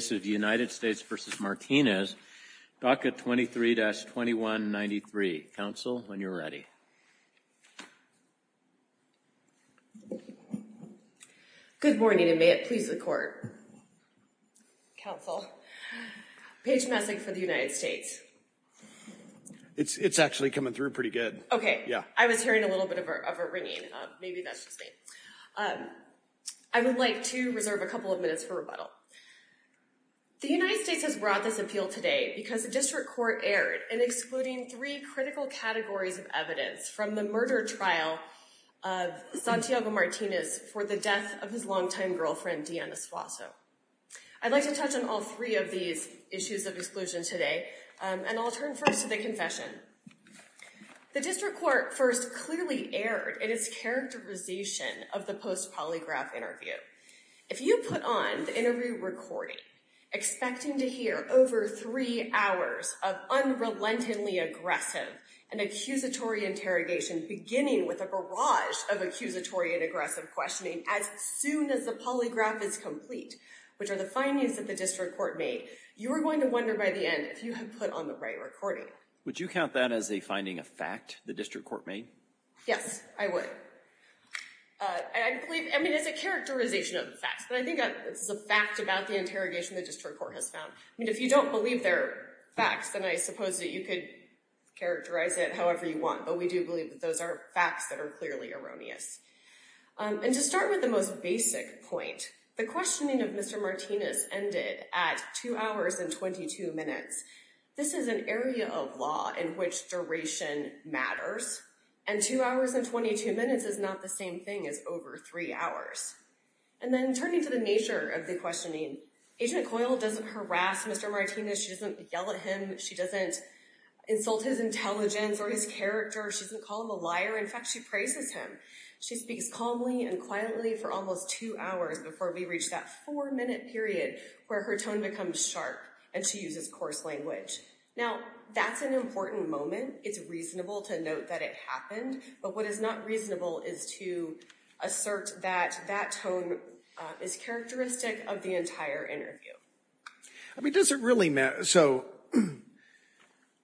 23-2193. Council, when you're ready. Good morning and may it please the court. Council. Page message for the United States. It's actually coming through pretty good. Okay. Yeah. I was hearing a little bit of a ringing. Maybe that's just me. I would like to reserve a couple of minutes for rebuttal. The United States has brought this appeal today because the district court erred in excluding three critical categories of evidence from the murder trial of Santiago Martinez for the death of his longtime girlfriend, Deanna Suazo. I'd like to touch on all three of these issues of exclusion today, and I'll turn first to the confession. The district court first clearly erred in its characterization of the post-polygraph interview. If you put on the interview recording, expecting to hear over three hours of unrelentingly aggressive and accusatory interrogation, beginning with a barrage of accusatory and aggressive questioning as soon as the polygraph is complete, which are the findings that the district court made, you are going to wonder by the end if you have put on the right recording. Would you count that as a finding of fact the district court made? Yes, I would. I mean, it's a characterization of the facts, but I think it's a fact about the interrogation the district court has found. I mean, if you don't believe they're facts, then I suppose that you could characterize it however you want, but we do believe that those are facts that are clearly erroneous. And to start with the most basic point, the questioning of Mr. Martinez ended at two hours and 22 minutes. This is an area of law in which duration matters, and two hours and 22 minutes is not the same thing as over three hours. And then turning to the nature of the questioning, Agent Coyle doesn't harass Mr. Martinez. She doesn't yell at him. She doesn't insult his intelligence or his character. She doesn't call him a liar. In fact, she praises him. She speaks calmly and quietly for almost two hours before we reach that four-minute period where her tone becomes sharp and she uses coarse language. Now, that's an important moment. It's reasonable to note that it happened, but what is not reasonable is to assert that that tone is characteristic of the entire interview. I mean, does it really matter? So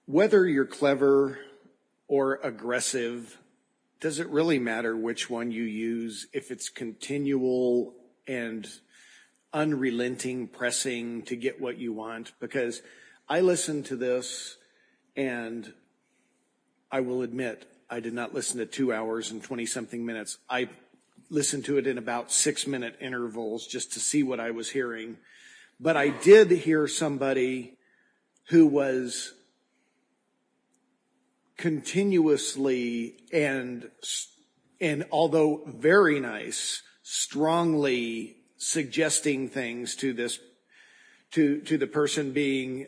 whether you're clever or aggressive, does it really matter which one you use if it's continual and unrelenting pressing to get what you want? Because I listened to this, and I will admit I did not listen to two hours and 20-something minutes. I listened to it in about six-minute intervals just to see what I was hearing. But I did hear somebody who was continuously and although very nice, strongly suggesting things to the person being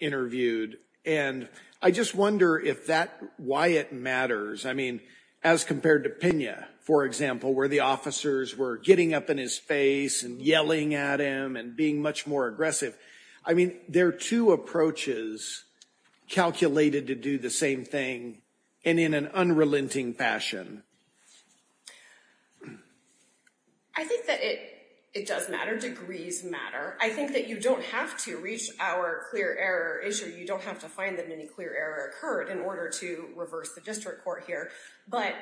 interviewed. And I just wonder if that, why it matters. I mean, as compared to Pena, for example, where the officers were getting up in his face and yelling at him and being much more aggressive. I mean, there are two approaches calculated to do the same thing and in an unrelenting fashion. I think that it does matter. Degrees matter. I think that you don't have to reach our clear error issue. You don't have to find that any clear error occurred in order to reverse the district court here. But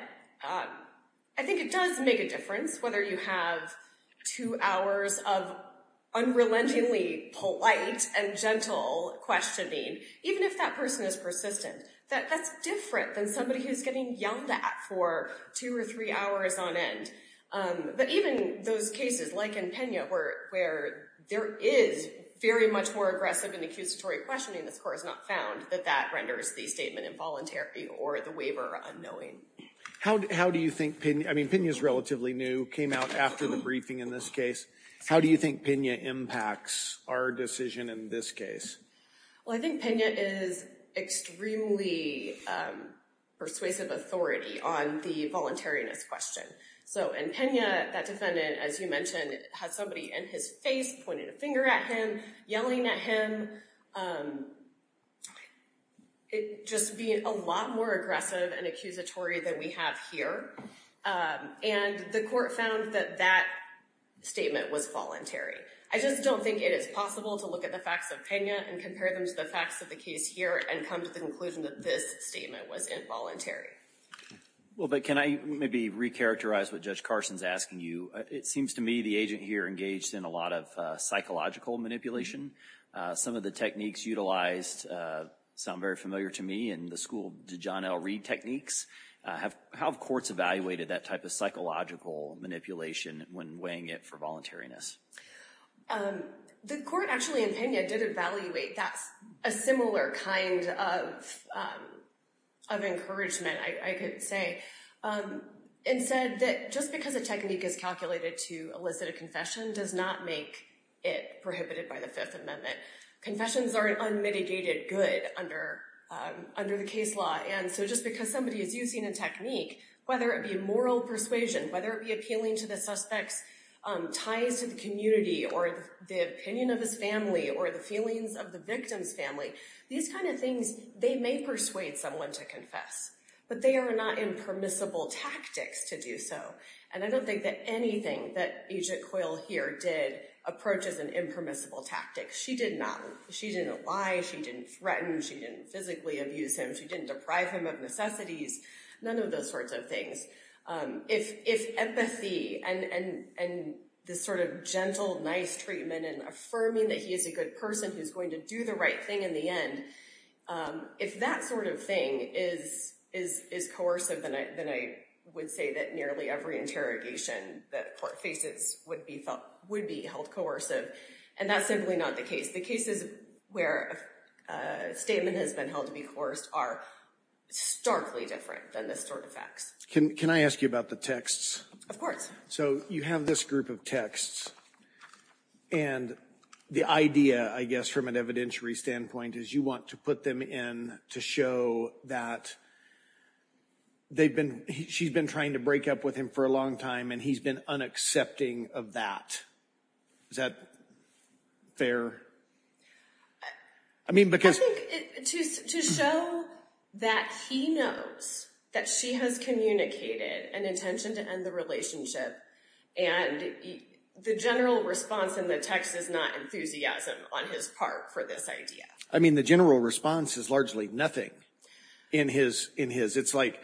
I think it does make a difference whether you have two hours of unrelentingly polite and gentle questioning, even if that person is persistent. That's different than somebody who's getting yelled at for two or three hours on end. But even those cases like in Pena where there is very much more aggressive and accusatory questioning, the court has not found that that renders the statement involuntary or the waiver unknowing. How do you think Pena, I mean, Pena is relatively new, came out after the briefing in this case. How do you think Pena impacts our decision in this case? Well, I think Pena is extremely persuasive authority on the voluntariness question. So in Pena, that defendant, as you mentioned, had somebody in his face pointing a finger at him, yelling at him. It just being a lot more aggressive and accusatory than we have here. And the court found that that statement was voluntary. I just don't think it is possible to look at the facts of Pena and compare them to the facts of the case here and come to the conclusion that this statement was involuntary. Well, but can I maybe recharacterize what Judge Carson's asking you? It seems to me the agent here engaged in a lot of psychological manipulation. Some of the techniques utilized sound very familiar to me in the school, the John L. Reed techniques. How have courts evaluated that type of psychological manipulation when weighing it for voluntariness? The court actually in Pena did evaluate a similar kind of encouragement, I could say, and said that just because a technique is calculated to elicit a confession does not make it prohibited by the Fifth Amendment. Confessions are an unmitigated good under the case law. And so just because somebody is using a technique, whether it be a moral persuasion, whether it be appealing to the suspect's ties to the community, or the opinion of his family, or the feelings of the victim's family, these kind of things, they may persuade someone to confess. But they are not impermissible tactics to do so. And I don't think that anything that Agent Coyle here did approaches an impermissible tactic. She didn't lie, she didn't threaten, she didn't physically abuse him, she didn't deprive him of necessities, none of those sorts of things. If empathy and this sort of gentle, nice treatment and affirming that he is a good person who's going to do the right thing in the end, if that sort of thing is coercive, then I would say that nearly every interrogation that court faces would be held coercive. And that's simply not the case. The cases where a statement has been held to be coerced are starkly different than this sort of facts. Can I ask you about the texts? Of course. So you have this group of texts. And the idea, I guess, from an evidentiary standpoint, is you want to put them in to show that she's been trying to break up with him for a long time, and he's been unaccepting of that. Is that fair? I think to show that he knows that she has communicated an intention to end the relationship, and the general response in the text is not enthusiasm on his part for this idea. I mean, the general response is largely nothing in his. It's like,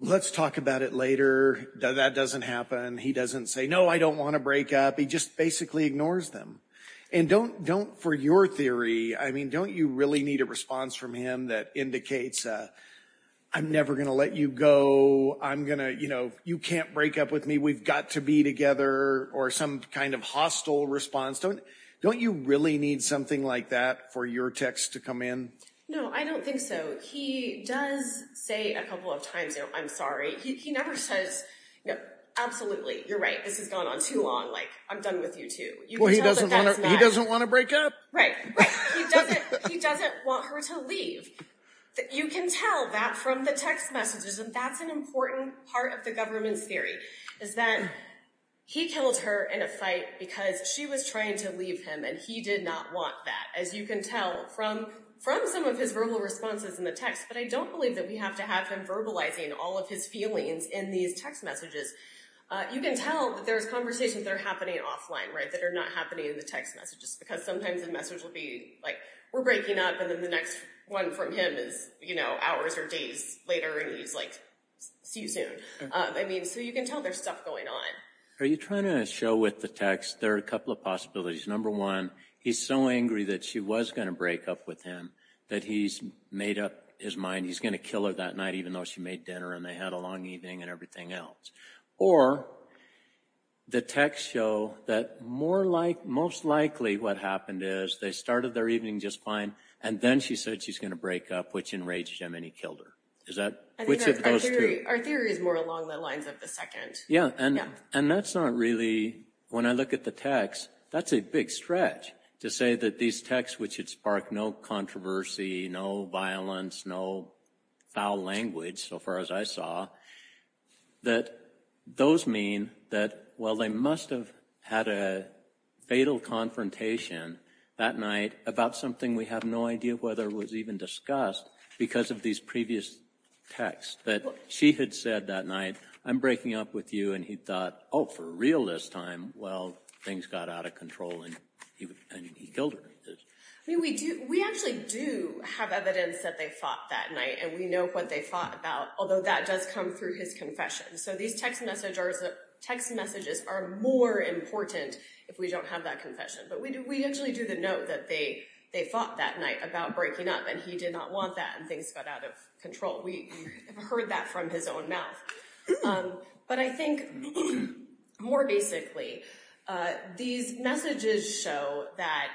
let's talk about it later. That doesn't happen. He doesn't say, no, I don't want to break up. He just basically ignores them. And don't, for your theory, I mean, don't you really need a response from him that indicates, I'm never going to let you go. I'm going to, you know, you can't break up with me. We've got to be together, or some kind of hostile response. Don't you really need something like that for your text to come in? No, I don't think so. He does say a couple of times, I'm sorry. He never says, absolutely, you're right, this has gone on too long. Like, I'm done with you two. Well, he doesn't want to break up. Right. He doesn't want her to leave. You can tell that from the text messages, and that's an important part of the government's theory, is that he killed her in a fight because she was trying to leave him, and he did not want that. As you can tell from some of his verbal responses in the text. But I don't believe that we have to have him verbalizing all of his feelings in these text messages. You can tell that there's conversations that are happening offline, right, that are not happening in the text messages, because sometimes the message will be, like, we're breaking up, and then the next one from him is, you know, hours or days later, and he's like, see you soon. I mean, so you can tell there's stuff going on. Are you trying to show with the text, there are a couple of possibilities. Number one, he's so angry that she was going to break up with him that he's made up his mind he's going to kill her that night, even though she made dinner and they had a long evening and everything else. Or the texts show that most likely what happened is they started their evening just fine, and then she said she's going to break up, which enraged him and he killed her. I think our theory is more along the lines of the second. Yeah, and that's not really, when I look at the text, that's a big stretch to say that these texts, which had sparked no controversy, no violence, no foul language, so far as I saw, that those mean that, well, they must have had a fatal confrontation that night about something we have no idea whether it was even discussed because of these previous texts, but she had said that night, I'm breaking up with you, and he thought, oh, for real this time. Well, things got out of control and he killed her. We actually do have evidence that they fought that night, and we know what they fought about, although that does come through his confession. So these text messages are more important if we don't have that confession, but we actually do the note that they fought that night about breaking up, and he did not want that, and things got out of control. We heard that from his own mouth. But I think more basically, these messages show that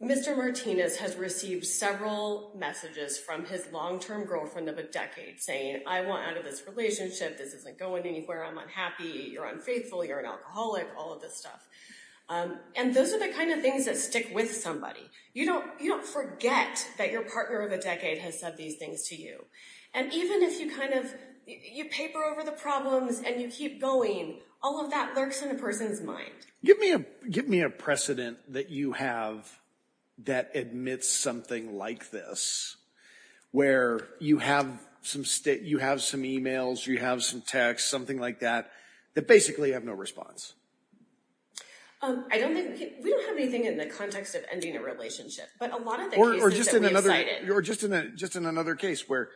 Mr. Martinez has received several messages from his long-term girlfriend of a decade saying, I want out of this relationship, this isn't going anywhere, I'm unhappy, you're unfaithful, you're an alcoholic, all of this stuff, and those are the kind of things that stick with somebody. You don't forget that your partner of a decade has said these things to you, and even if you paper over the problems and you keep going, all of that lurks in a person's mind. Give me a precedent that you have that admits something like this, where you have some emails, you have some texts, something like that, that basically have no response. I don't think, we don't have anything in the context of ending a relationship, but a lot of the cases that we have cited... Or just in another case where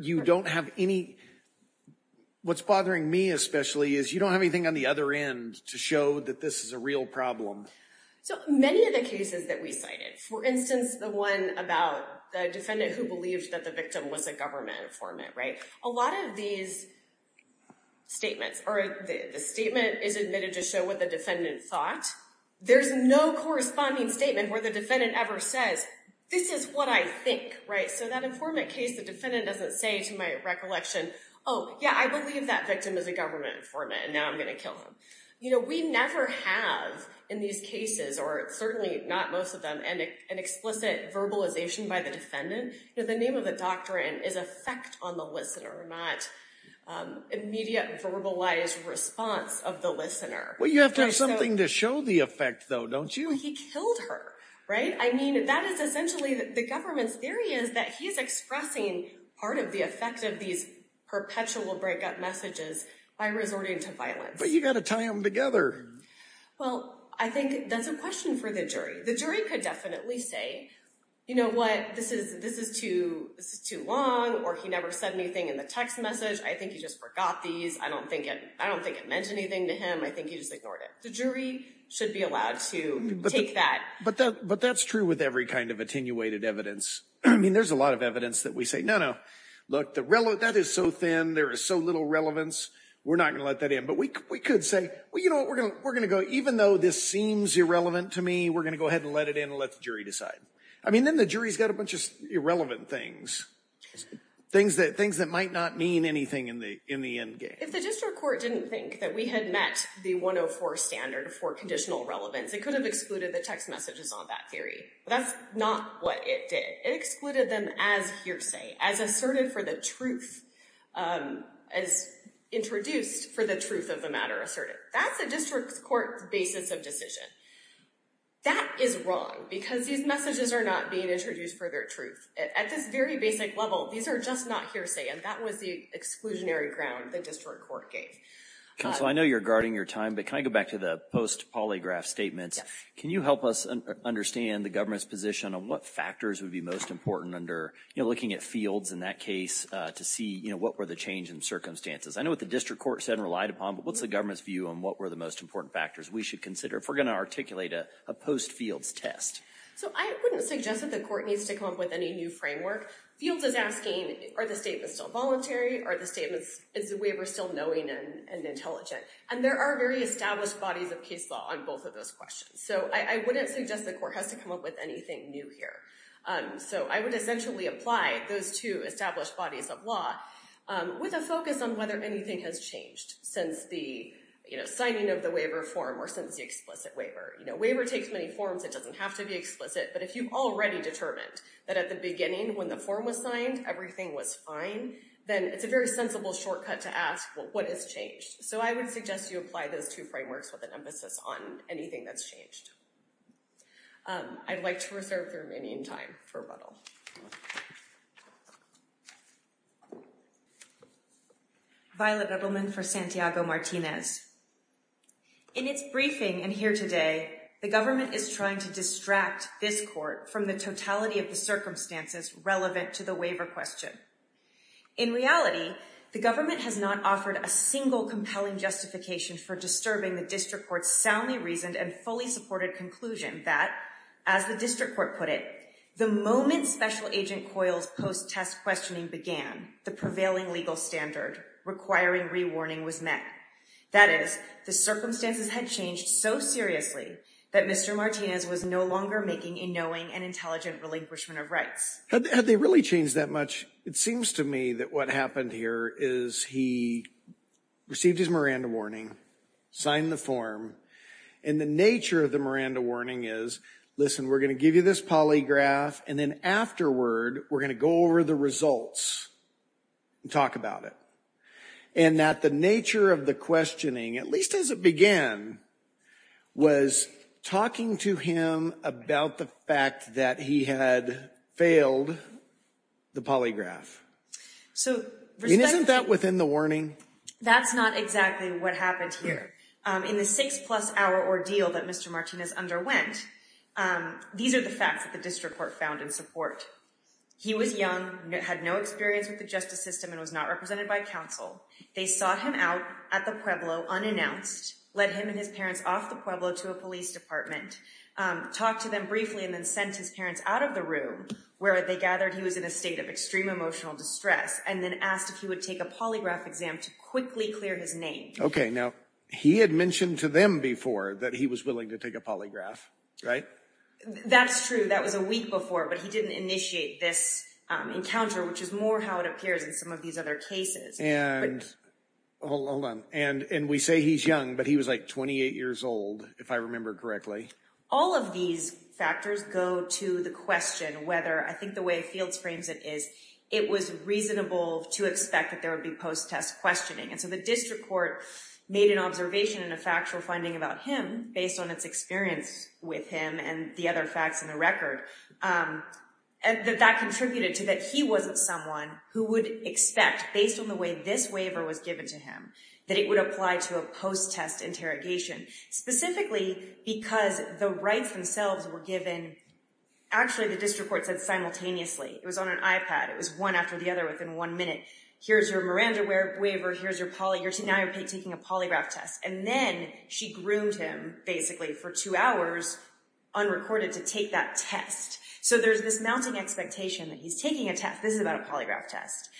you don't have any, what's bothering me especially is you don't have anything on the other end to show that this is a real problem. So many of the cases that we cited, for instance, the one about the defendant who believed that the victim was a government informant, right, a lot of these statements, or the statement is admitted to show what the defendant thought. There's no corresponding statement where the defendant ever says, this is what I think, right? So that informant case, the defendant doesn't say to my recollection, oh, yeah, I believe that victim is a government informant, and now I'm going to kill him. We never have in these cases, or certainly not most of them, an explicit verbalization by the defendant. You know, the name of the doctrine is effect on the listener, not immediate verbalized response of the listener. Well, you have to have something to show the effect, though, don't you? He killed her, right? I mean, that is essentially, the government's theory is that he's expressing part of the effect of these perpetual breakup messages by resorting to violence. But you've got to tie them together. Well, I think that's a question for the jury. The jury could definitely say, you know what, this is too long, or he never said anything in the text message. I think he just forgot these. I don't think it meant anything to him. I think he just ignored it. The jury should be allowed to take that. But that's true with every kind of attenuated evidence. I mean, there's a lot of evidence that we say, no, no, look, that is so thin. There is so little relevance. We're not going to let that in. But we could say, well, you know what, we're going to go, even though this seems irrelevant to me, we're going to go ahead and let it in and let the jury decide. I mean, then the jury's got a bunch of irrelevant things, things that might not mean anything in the end game. If the district court didn't think that we had met the 104 standard for conditional relevance, it could have excluded the text messages on that theory. That's not what it did. It excluded them as hearsay, as asserted for the truth, as introduced for the truth of the matter asserted. That's a district court basis of decision. That is wrong, because these messages are not being introduced for their truth. At this very basic level, these are just not hearsay, and that was the exclusionary ground the district court gave. Counsel, I know you're guarding your time, but can I go back to the post-polygraph statements? Yes. Can you help us understand the government's position on what factors would be most important under, you know, looking at fields in that case to see, you know, what were the change in circumstances? I know what the district court said and relied upon, but what's the government's view on what were the most important factors we should consider if we're going to articulate a post-fields test? So I wouldn't suggest that the court needs to come up with any new framework. Fields is asking, are the statements still voluntary? Are the statements, is the waiver still knowing and intelligent? And there are very established bodies of case law on both of those questions. So I wouldn't suggest the court has to come up with anything new here. So I would essentially apply those two established bodies of law with a focus on whether anything has changed since the, you know, signing of the waiver form or since the explicit waiver. You know, waiver takes many forms. It doesn't have to be explicit, but if you've already determined that at the beginning when the form was signed, everything was fine, then it's a very sensible shortcut to ask, well, what has changed? So I would suggest you apply those two frameworks with an emphasis on anything that's changed. I'd like to reserve the remaining time for rebuttal. Violet Edelman for Santiago Martinez. In its briefing and here today, the government is trying to distract this court from the totality of the circumstances relevant to the waiver question. In reality, the government has not offered a single compelling justification for disturbing the district court's soundly reasoned and fully supported conclusion that, as the district court put it, the moment special agent Coyle's post-test questioning began, the prevailing legal standard requiring rewarning was met. That is, the circumstances had changed so seriously that Mr. Martinez was no longer making a knowing and intelligent relinquishment of rights. Had they really changed that much? It seems to me that what happened here is he received his Miranda warning, signed the form, and the nature of the Miranda warning is, listen, we're going to give you this polygraph, and then afterward, we're going to go over the results and talk about it. And that the nature of the questioning, at least as it began, was talking to him about the fact that he had failed the polygraph. Isn't that within the warning? That's not exactly what happened here. In the six-plus-hour ordeal that Mr. Martinez underwent, these are the facts that the district court found in support. He was young, had no experience with the justice system, and was not represented by counsel. They sought him out at the Pueblo unannounced, led him and his parents off the Pueblo to a police department, talked to them briefly, and then sent his parents out of the room where they gathered he was in a state of extreme emotional distress, and then asked if he would take a polygraph exam to quickly clear his name. Okay, now, he had mentioned to them before that he was willing to take a polygraph, right? That's true, that was a week before, but he didn't initiate this encounter, which is more how it appears in some of these other cases. And we say he's young, but he was like 28 years old, if I remember correctly. All of these factors go to the question whether, I think the way Fields frames it is, it was reasonable to expect that there would be post-test questioning. And so the district court made an observation in a factual finding about him, based on its experience with him and the other facts in the record, that that contributed to that he wasn't someone who would expect, based on the way this waiver was given to him, that it would apply to a post-test interrogation. Specifically because the rights themselves were given, actually the district court said simultaneously. It was on an iPad, it was one after the other within one minute. Here's your Miranda waiver, now you're taking a polygraph test. And then she groomed him basically for two hours, unrecorded, to take that test. So there's this mounting expectation that he's taking a test, this is about a polygraph test.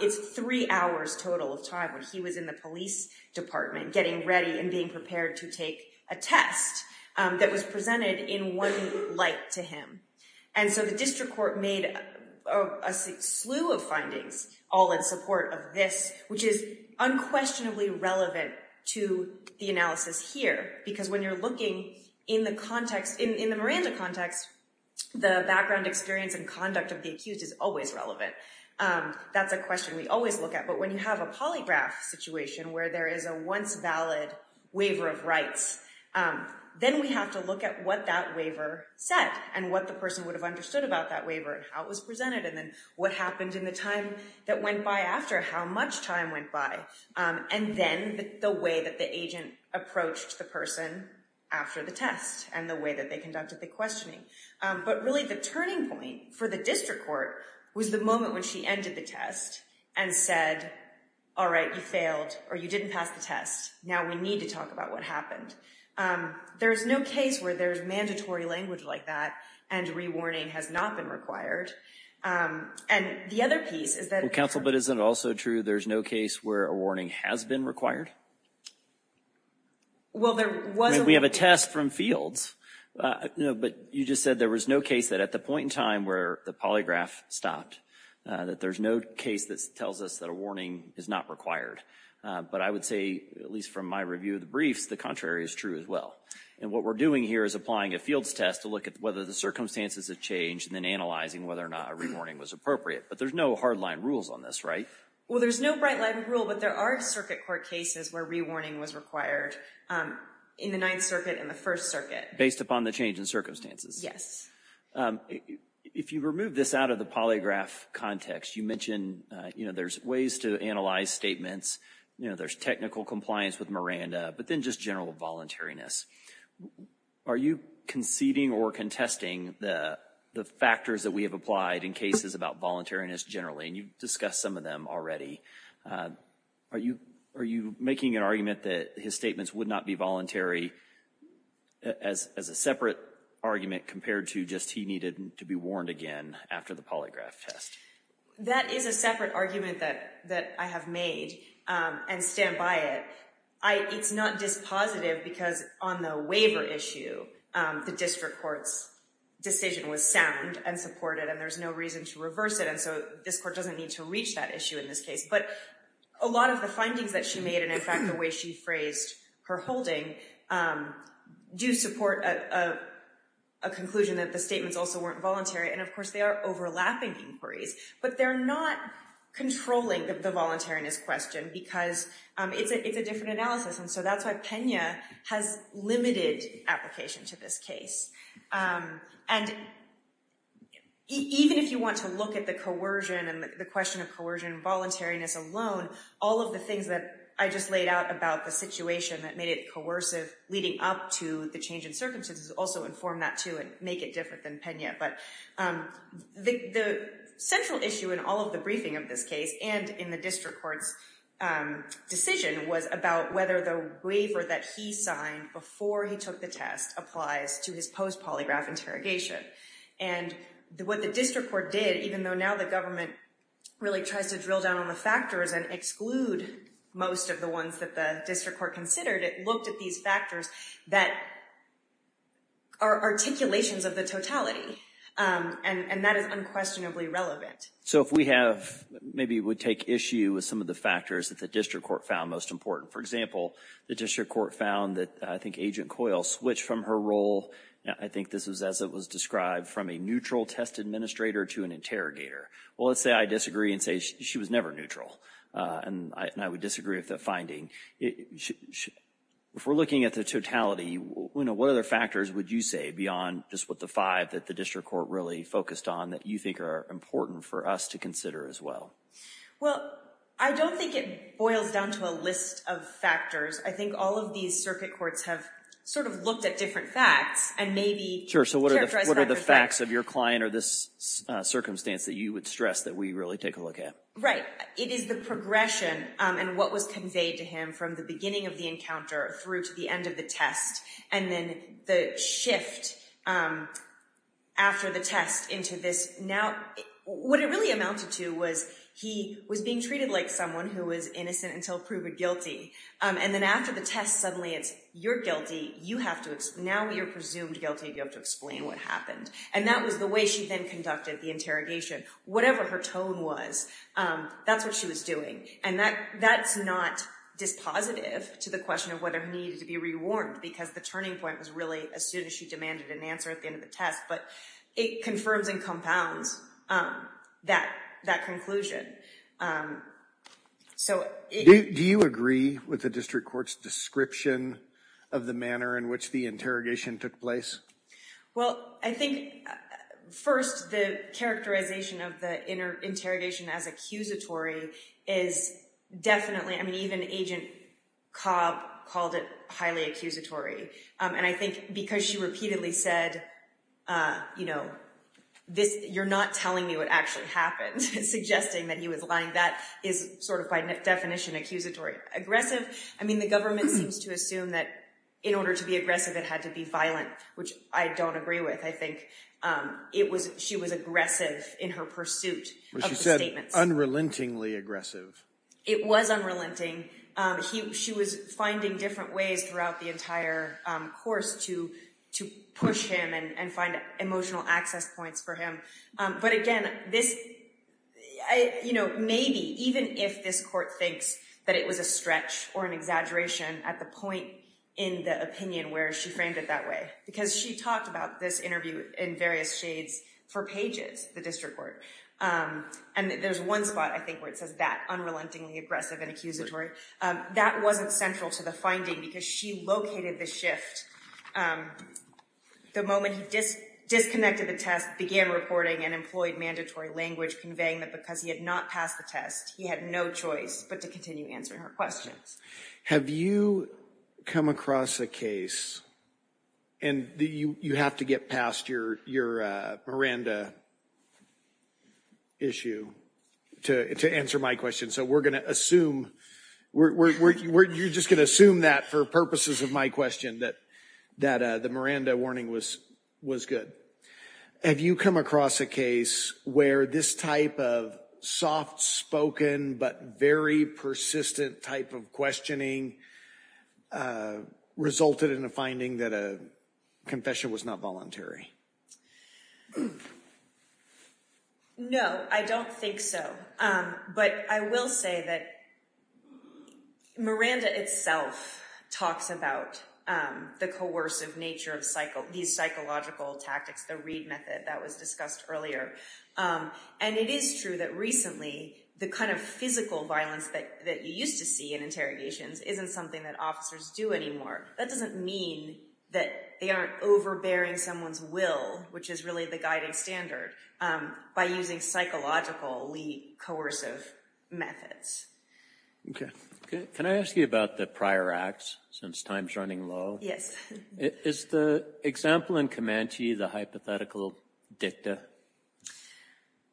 It's three hours total of time when he was in the police department, getting ready and being prepared to take a test, that was presented in one light to him. And so the district court made a slew of findings, all in support of this, which is unquestionably relevant to the analysis here. Because when you're looking in the context, in the Miranda context, the background experience and conduct of the accused is always relevant. That's a question we always look at. But when you have a polygraph situation, where there is a once valid waiver of rights, then we have to look at what that waiver said and what the person would have understood about that waiver and how it was presented and then what happened in the time that went by after, how much time went by. And then the way that the agent approached the person after the test and the way that they conducted the questioning. But really the turning point for the district court was the moment when she ended the test and said, all right, you failed or you didn't pass the test. Now we need to talk about what happened. There's no case where there's mandatory language like that and re-warning has not been required. And the other piece is that- Well, counsel, but isn't it also true there's no case where a warning has been required? Well, there was- We have a test from fields. No, but you just said there was no case that at the point in time where the polygraph stopped, that there's no case that tells us that a warning is not required. But I would say, at least from my review of the briefs, the contrary is true as well. And what we're doing here is applying a fields test to look at whether the circumstances have changed and then analyzing whether or not a re-warning was appropriate. But there's no hardline rules on this, right? Well, there's no hardline rule, but there are circuit court cases where re-warning was required in the Ninth Circuit and the First Circuit. Based upon the change in circumstances? Yes. If you remove this out of the polygraph context, you mentioned there's ways to analyze statements, there's technical compliance with Miranda, but then just general voluntariness. Are you conceding or contesting the factors that we have applied in cases about voluntariness generally? And you've discussed some of them already. Are you making an argument that his statements would not be voluntary as a separate argument compared to just he needed to be warned again after the polygraph test? That is a separate argument that I have made and stand by it. It's not dispositive because on the waiver issue, the district court's decision was sound and supported and there's no reason to reverse it, and so this court doesn't need to reach that issue in this case. But a lot of the findings that she made and, in fact, the way she phrased her holding do support a conclusion that the statements also weren't voluntary. And, of course, they are overlapping inquiries, but they're not controlling the voluntariness question because it's a different analysis. And so that's why Pena has limited application to this case. And even if you want to look at the coercion and the question of coercion and voluntariness alone, all of the things that I just laid out about the situation that made it coercive leading up to the change in circumstances also inform that, too, and make it different than Pena. But the central issue in all of the briefing of this case and in the district court's decision was about whether the waiver that he signed before he took the test applies to his post-polygraph interrogation. And what the district court did, even though now the government really tries to drill down on the factors and exclude most of the ones that the district court considered, it looked at these factors that are articulations of the totality, and that is unquestionably relevant. So if we have, maybe it would take issue with some of the factors that the district court found most important. For example, the district court found that, I think, Agent Coyle switched from her role, I think this was as it was described, from a neutral test administrator to an interrogator. Well, let's say I disagree and say she was never neutral, and I would disagree with that finding. If we're looking at the totality, what other factors would you say beyond just what the five that the district court really focused on that you think are important for us to consider as well? Well, I don't think it boils down to a list of factors. I think all of these circuit courts have sort of looked at different facts and maybe characterized that. Sure, so what are the facts of your client or this circumstance that you would stress that we really take a look at? Right. It is the progression and what was conveyed to him from the beginning of the encounter through to the end of the test, and then the shift after the test into this. Now, what it really amounted to was he was being treated like someone who was innocent until proven guilty, and then after the test suddenly it's you're guilty, now you're presumed guilty, you have to explain what happened. And that was the way she then conducted the interrogation. Whatever her tone was, that's what she was doing. And that's not dispositive to the question of whether he needed to be rewarned because the turning point was really as soon as she demanded an answer at the end of the test. But it confirms and compounds that conclusion. Do you agree with the district court's description of the manner in which the interrogation took place? Well, I think first the characterization of the interrogation as accusatory is definitely, I mean, even Agent Cobb called it highly accusatory. And I think because she repeatedly said, you know, you're not telling me what actually happened, suggesting that he was lying, that is sort of by definition accusatory. Aggressive? I mean, the government seems to assume that in order to be aggressive it had to be violent, which I don't agree with. I think she was aggressive in her pursuit of the statements. Unrelentingly aggressive. It was unrelenting. She was finding different ways throughout the entire course to push him and find emotional access points for him. But, again, this, you know, maybe even if this court thinks that it was a stretch or an exaggeration at the point in the opinion where she framed it that way because she talked about this interview in various shades for pages, the district court. And there's one spot, I think, where it says that, unrelentingly aggressive and accusatory. That wasn't central to the finding because she located the shift. The moment he disconnected the test, began reporting and employed mandatory language conveying that because he had not passed the test, he had no choice but to continue answering her questions. Have you come across a case, and you have to get past your Miranda issue to answer my question, so we're going to assume, you're just going to assume that for purposes of my question, that the Miranda warning was good. Have you come across a case where this type of soft-spoken but very persistent type of questioning resulted in a finding that a confession was not voluntary? No, I don't think so. But I will say that Miranda itself talks about the coercive nature of these psychological tactics, the Reid method that was discussed earlier. And it is true that recently the kind of physical violence that you used to see in interrogations isn't something that officers do anymore. That doesn't mean that they aren't overbearing someone's will, which is really the guiding standard, by using psychologically coercive methods. Okay. Can I ask you about the prior acts, since time's running low? Yes. Is the example in Comanche the hypothetical dicta?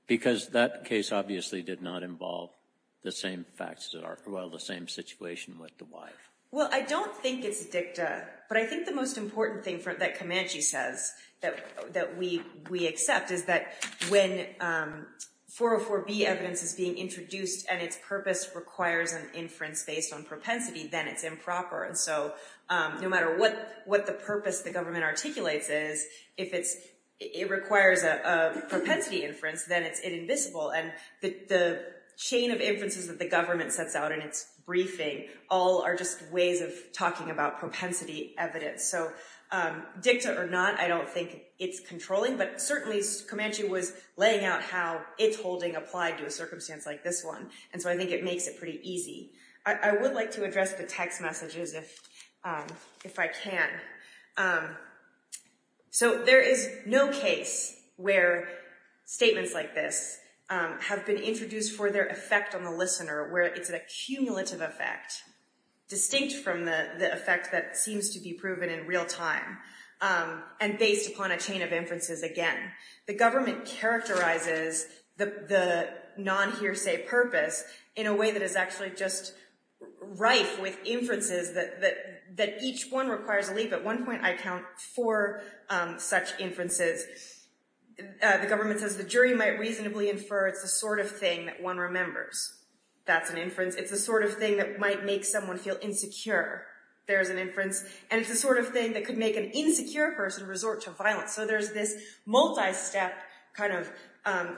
Because that case obviously did not involve the same facts as it are, well, the same situation with the wife. Well, I don't think it's dicta. But I think the most important thing that Comanche says that we accept is that when 404B evidence is being introduced and its purpose requires an inference based on propensity, then it's improper. And so no matter what the purpose the government articulates is, if it requires a propensity inference, then it's invisible. And the chain of inferences that the government sets out in its briefing all are just ways of talking about propensity evidence. So dicta or not, I don't think it's controlling. But certainly Comanche was laying out how its holding applied to a circumstance like this one. And so I think it makes it pretty easy. I would like to address the text messages if I can. So there is no case where statements like this have been introduced for their effect on the listener, where it's an accumulative effect, distinct from the effect that seems to be proven in real time and based upon a chain of inferences again. The government characterizes the non-hearsay purpose in a way that is actually just rife with inferences that each one requires a leap. At one point I count four such inferences. The government says the jury might reasonably infer it's the sort of thing that one remembers. That's an inference. It's the sort of thing that might make someone feel insecure. There's an inference. And it's the sort of thing that could make an insecure person resort to violence. So there's this multi-step kind of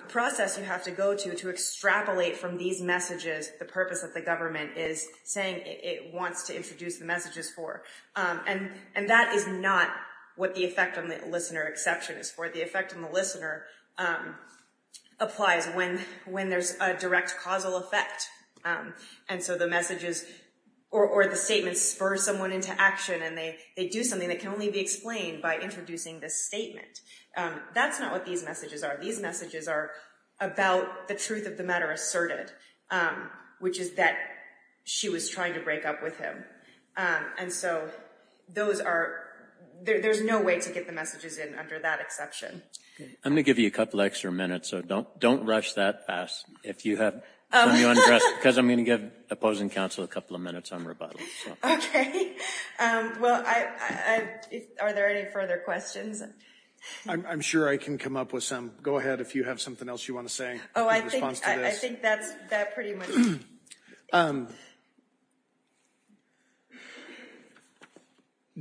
process you have to go to to extrapolate from these messages the purpose that the government is saying it wants to introduce the messages for. And that is not what the effect on the listener exception is for. The effect on the listener applies when there's a direct causal effect. And so the messages or the statements spur someone into action and they do something that can only be explained by introducing this statement. That's not what these messages are. These messages are about the truth of the matter asserted, which is that she was trying to break up with him. And so there's no way to get the messages in under that exception. I'm going to give you a couple extra minutes, so don't rush that past. If you have something you want to address, because I'm going to give opposing counsel a couple of minutes on rebuttal. Okay. Well, are there any further questions? I'm sure I can come up with some. Go ahead if you have something else you want to say in response to this. Oh, I think that's pretty much it.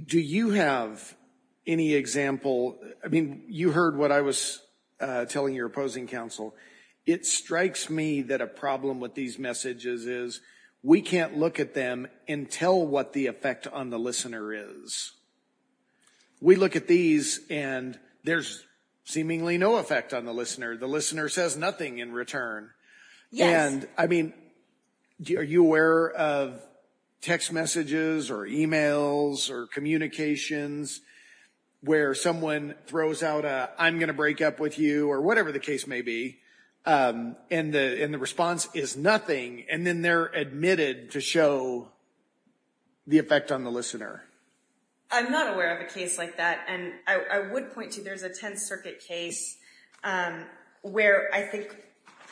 Do you have any example? I mean, you heard what I was telling your opposing counsel. It strikes me that a problem with these messages is we can't look at them and tell what the effect on the listener is. We look at these, and there's seemingly no effect on the listener. The listener says nothing in return. And, I mean, are you aware of text messages or e-mails or communications where someone throws out a, I'm going to break up with you, or whatever the case may be, and the response is nothing, and then they're admitted to show the effect on the listener? I'm not aware of a case like that, and I would point to there's a Tenth Circuit case where I think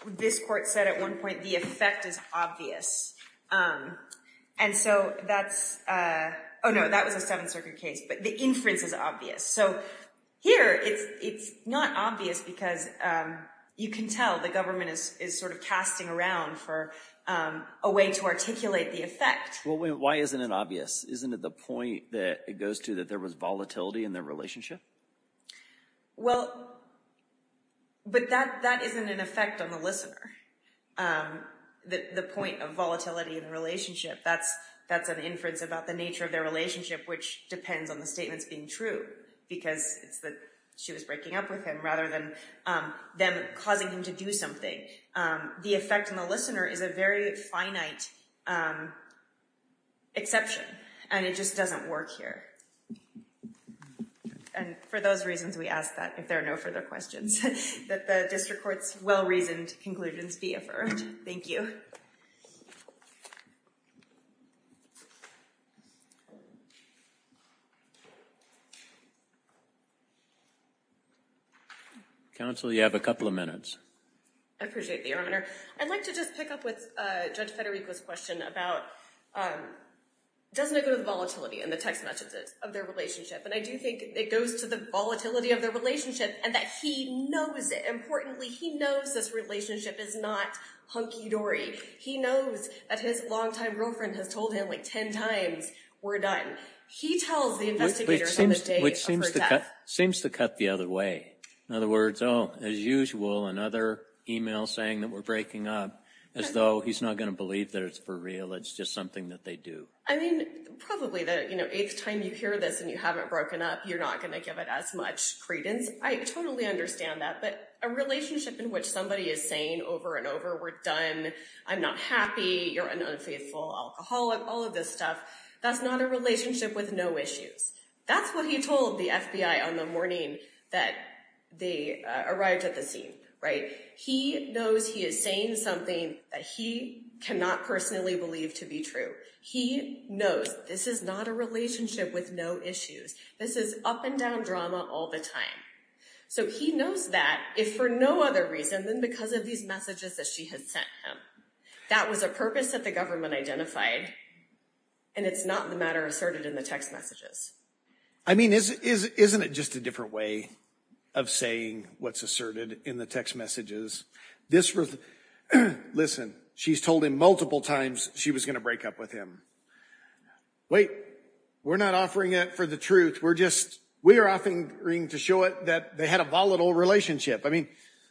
this court said at one point the effect is obvious. And so that's, oh, no, that was a Seventh Circuit case, but the inference is obvious. So here it's not obvious because you can tell the government is sort of a way to articulate the effect. Well, why isn't it obvious? Isn't it the point that it goes to that there was volatility in their relationship? Well, but that isn't an effect on the listener, the point of volatility in a relationship. That's an inference about the nature of their relationship, which depends on the statements being true, because it's that she was breaking up with him rather than them causing him to do something. The effect on the listener is a very finite exception, and it just doesn't work here. And for those reasons we ask that if there are no further questions, that the district court's well-reasoned conclusions be affirmed. Thank you. Counsel, you have a couple of minutes. I appreciate it, Your Honor. I'd like to just pick up with Judge Federico's question about, doesn't it go to the volatility in the text messages of their relationship? And I do think it goes to the volatility of their relationship and that he knows it. Importantly, he knows this relationship is not hunky-dory. He knows that it's not just a case of, he knows that his longtime girlfriend has told him like 10 times, we're done. He tells the investigators on the day of her death. Which seems to cut the other way. In other words, oh, as usual, another email saying that we're breaking up, as though he's not going to believe that it's for real, it's just something that they do. I mean, probably the eighth time you hear this and you haven't broken up, you're not going to give it as much credence. I totally understand that. But a relationship in which somebody is saying over and over, we're done, I'm not happy, you're an unfaithful alcoholic, all of this stuff. That's not a relationship with no issues. That's what he told the FBI on the morning that they arrived at the scene. He knows he is saying something that he cannot personally believe to be true. He knows this is not a relationship with no issues. This is up and down drama all the time. So he knows that if for no other reason than because of these messages that she had sent him. That was a purpose that the government identified, and it's not the matter asserted in the text messages. I mean, isn't it just a different way of saying what's asserted in the text messages? Listen, she's told him multiple times she was going to break up with him. Wait, we're not offering it for the truth. We're offering to show it that they had a volatile relationship. I mean,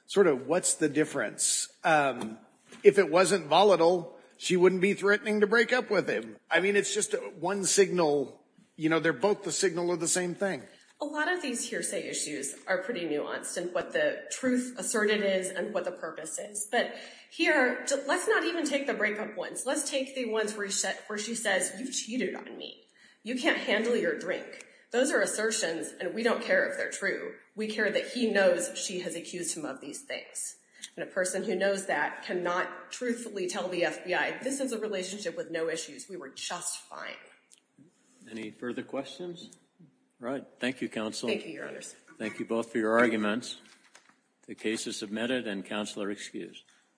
sort of what's the difference? If it wasn't volatile, she wouldn't be threatening to break up with him. I mean, it's just one signal. You know, they're both the signal of the same thing. A lot of these hearsay issues are pretty nuanced in what the truth asserted is and what the purpose is. But here, let's not even take the breakup ones. Let's take the ones where she says, you've cheated on me. You can't handle your drink. Those are assertions, and we don't care if they're true. We care that he knows she has accused him of these things. And a person who knows that cannot truthfully tell the FBI, this is a relationship with no issues. We were just fine. Any further questions? All right. Thank you, Counsel. Thank you, Your Honors. Thank you both for your arguments. The case is submitted, and Counsel are excused.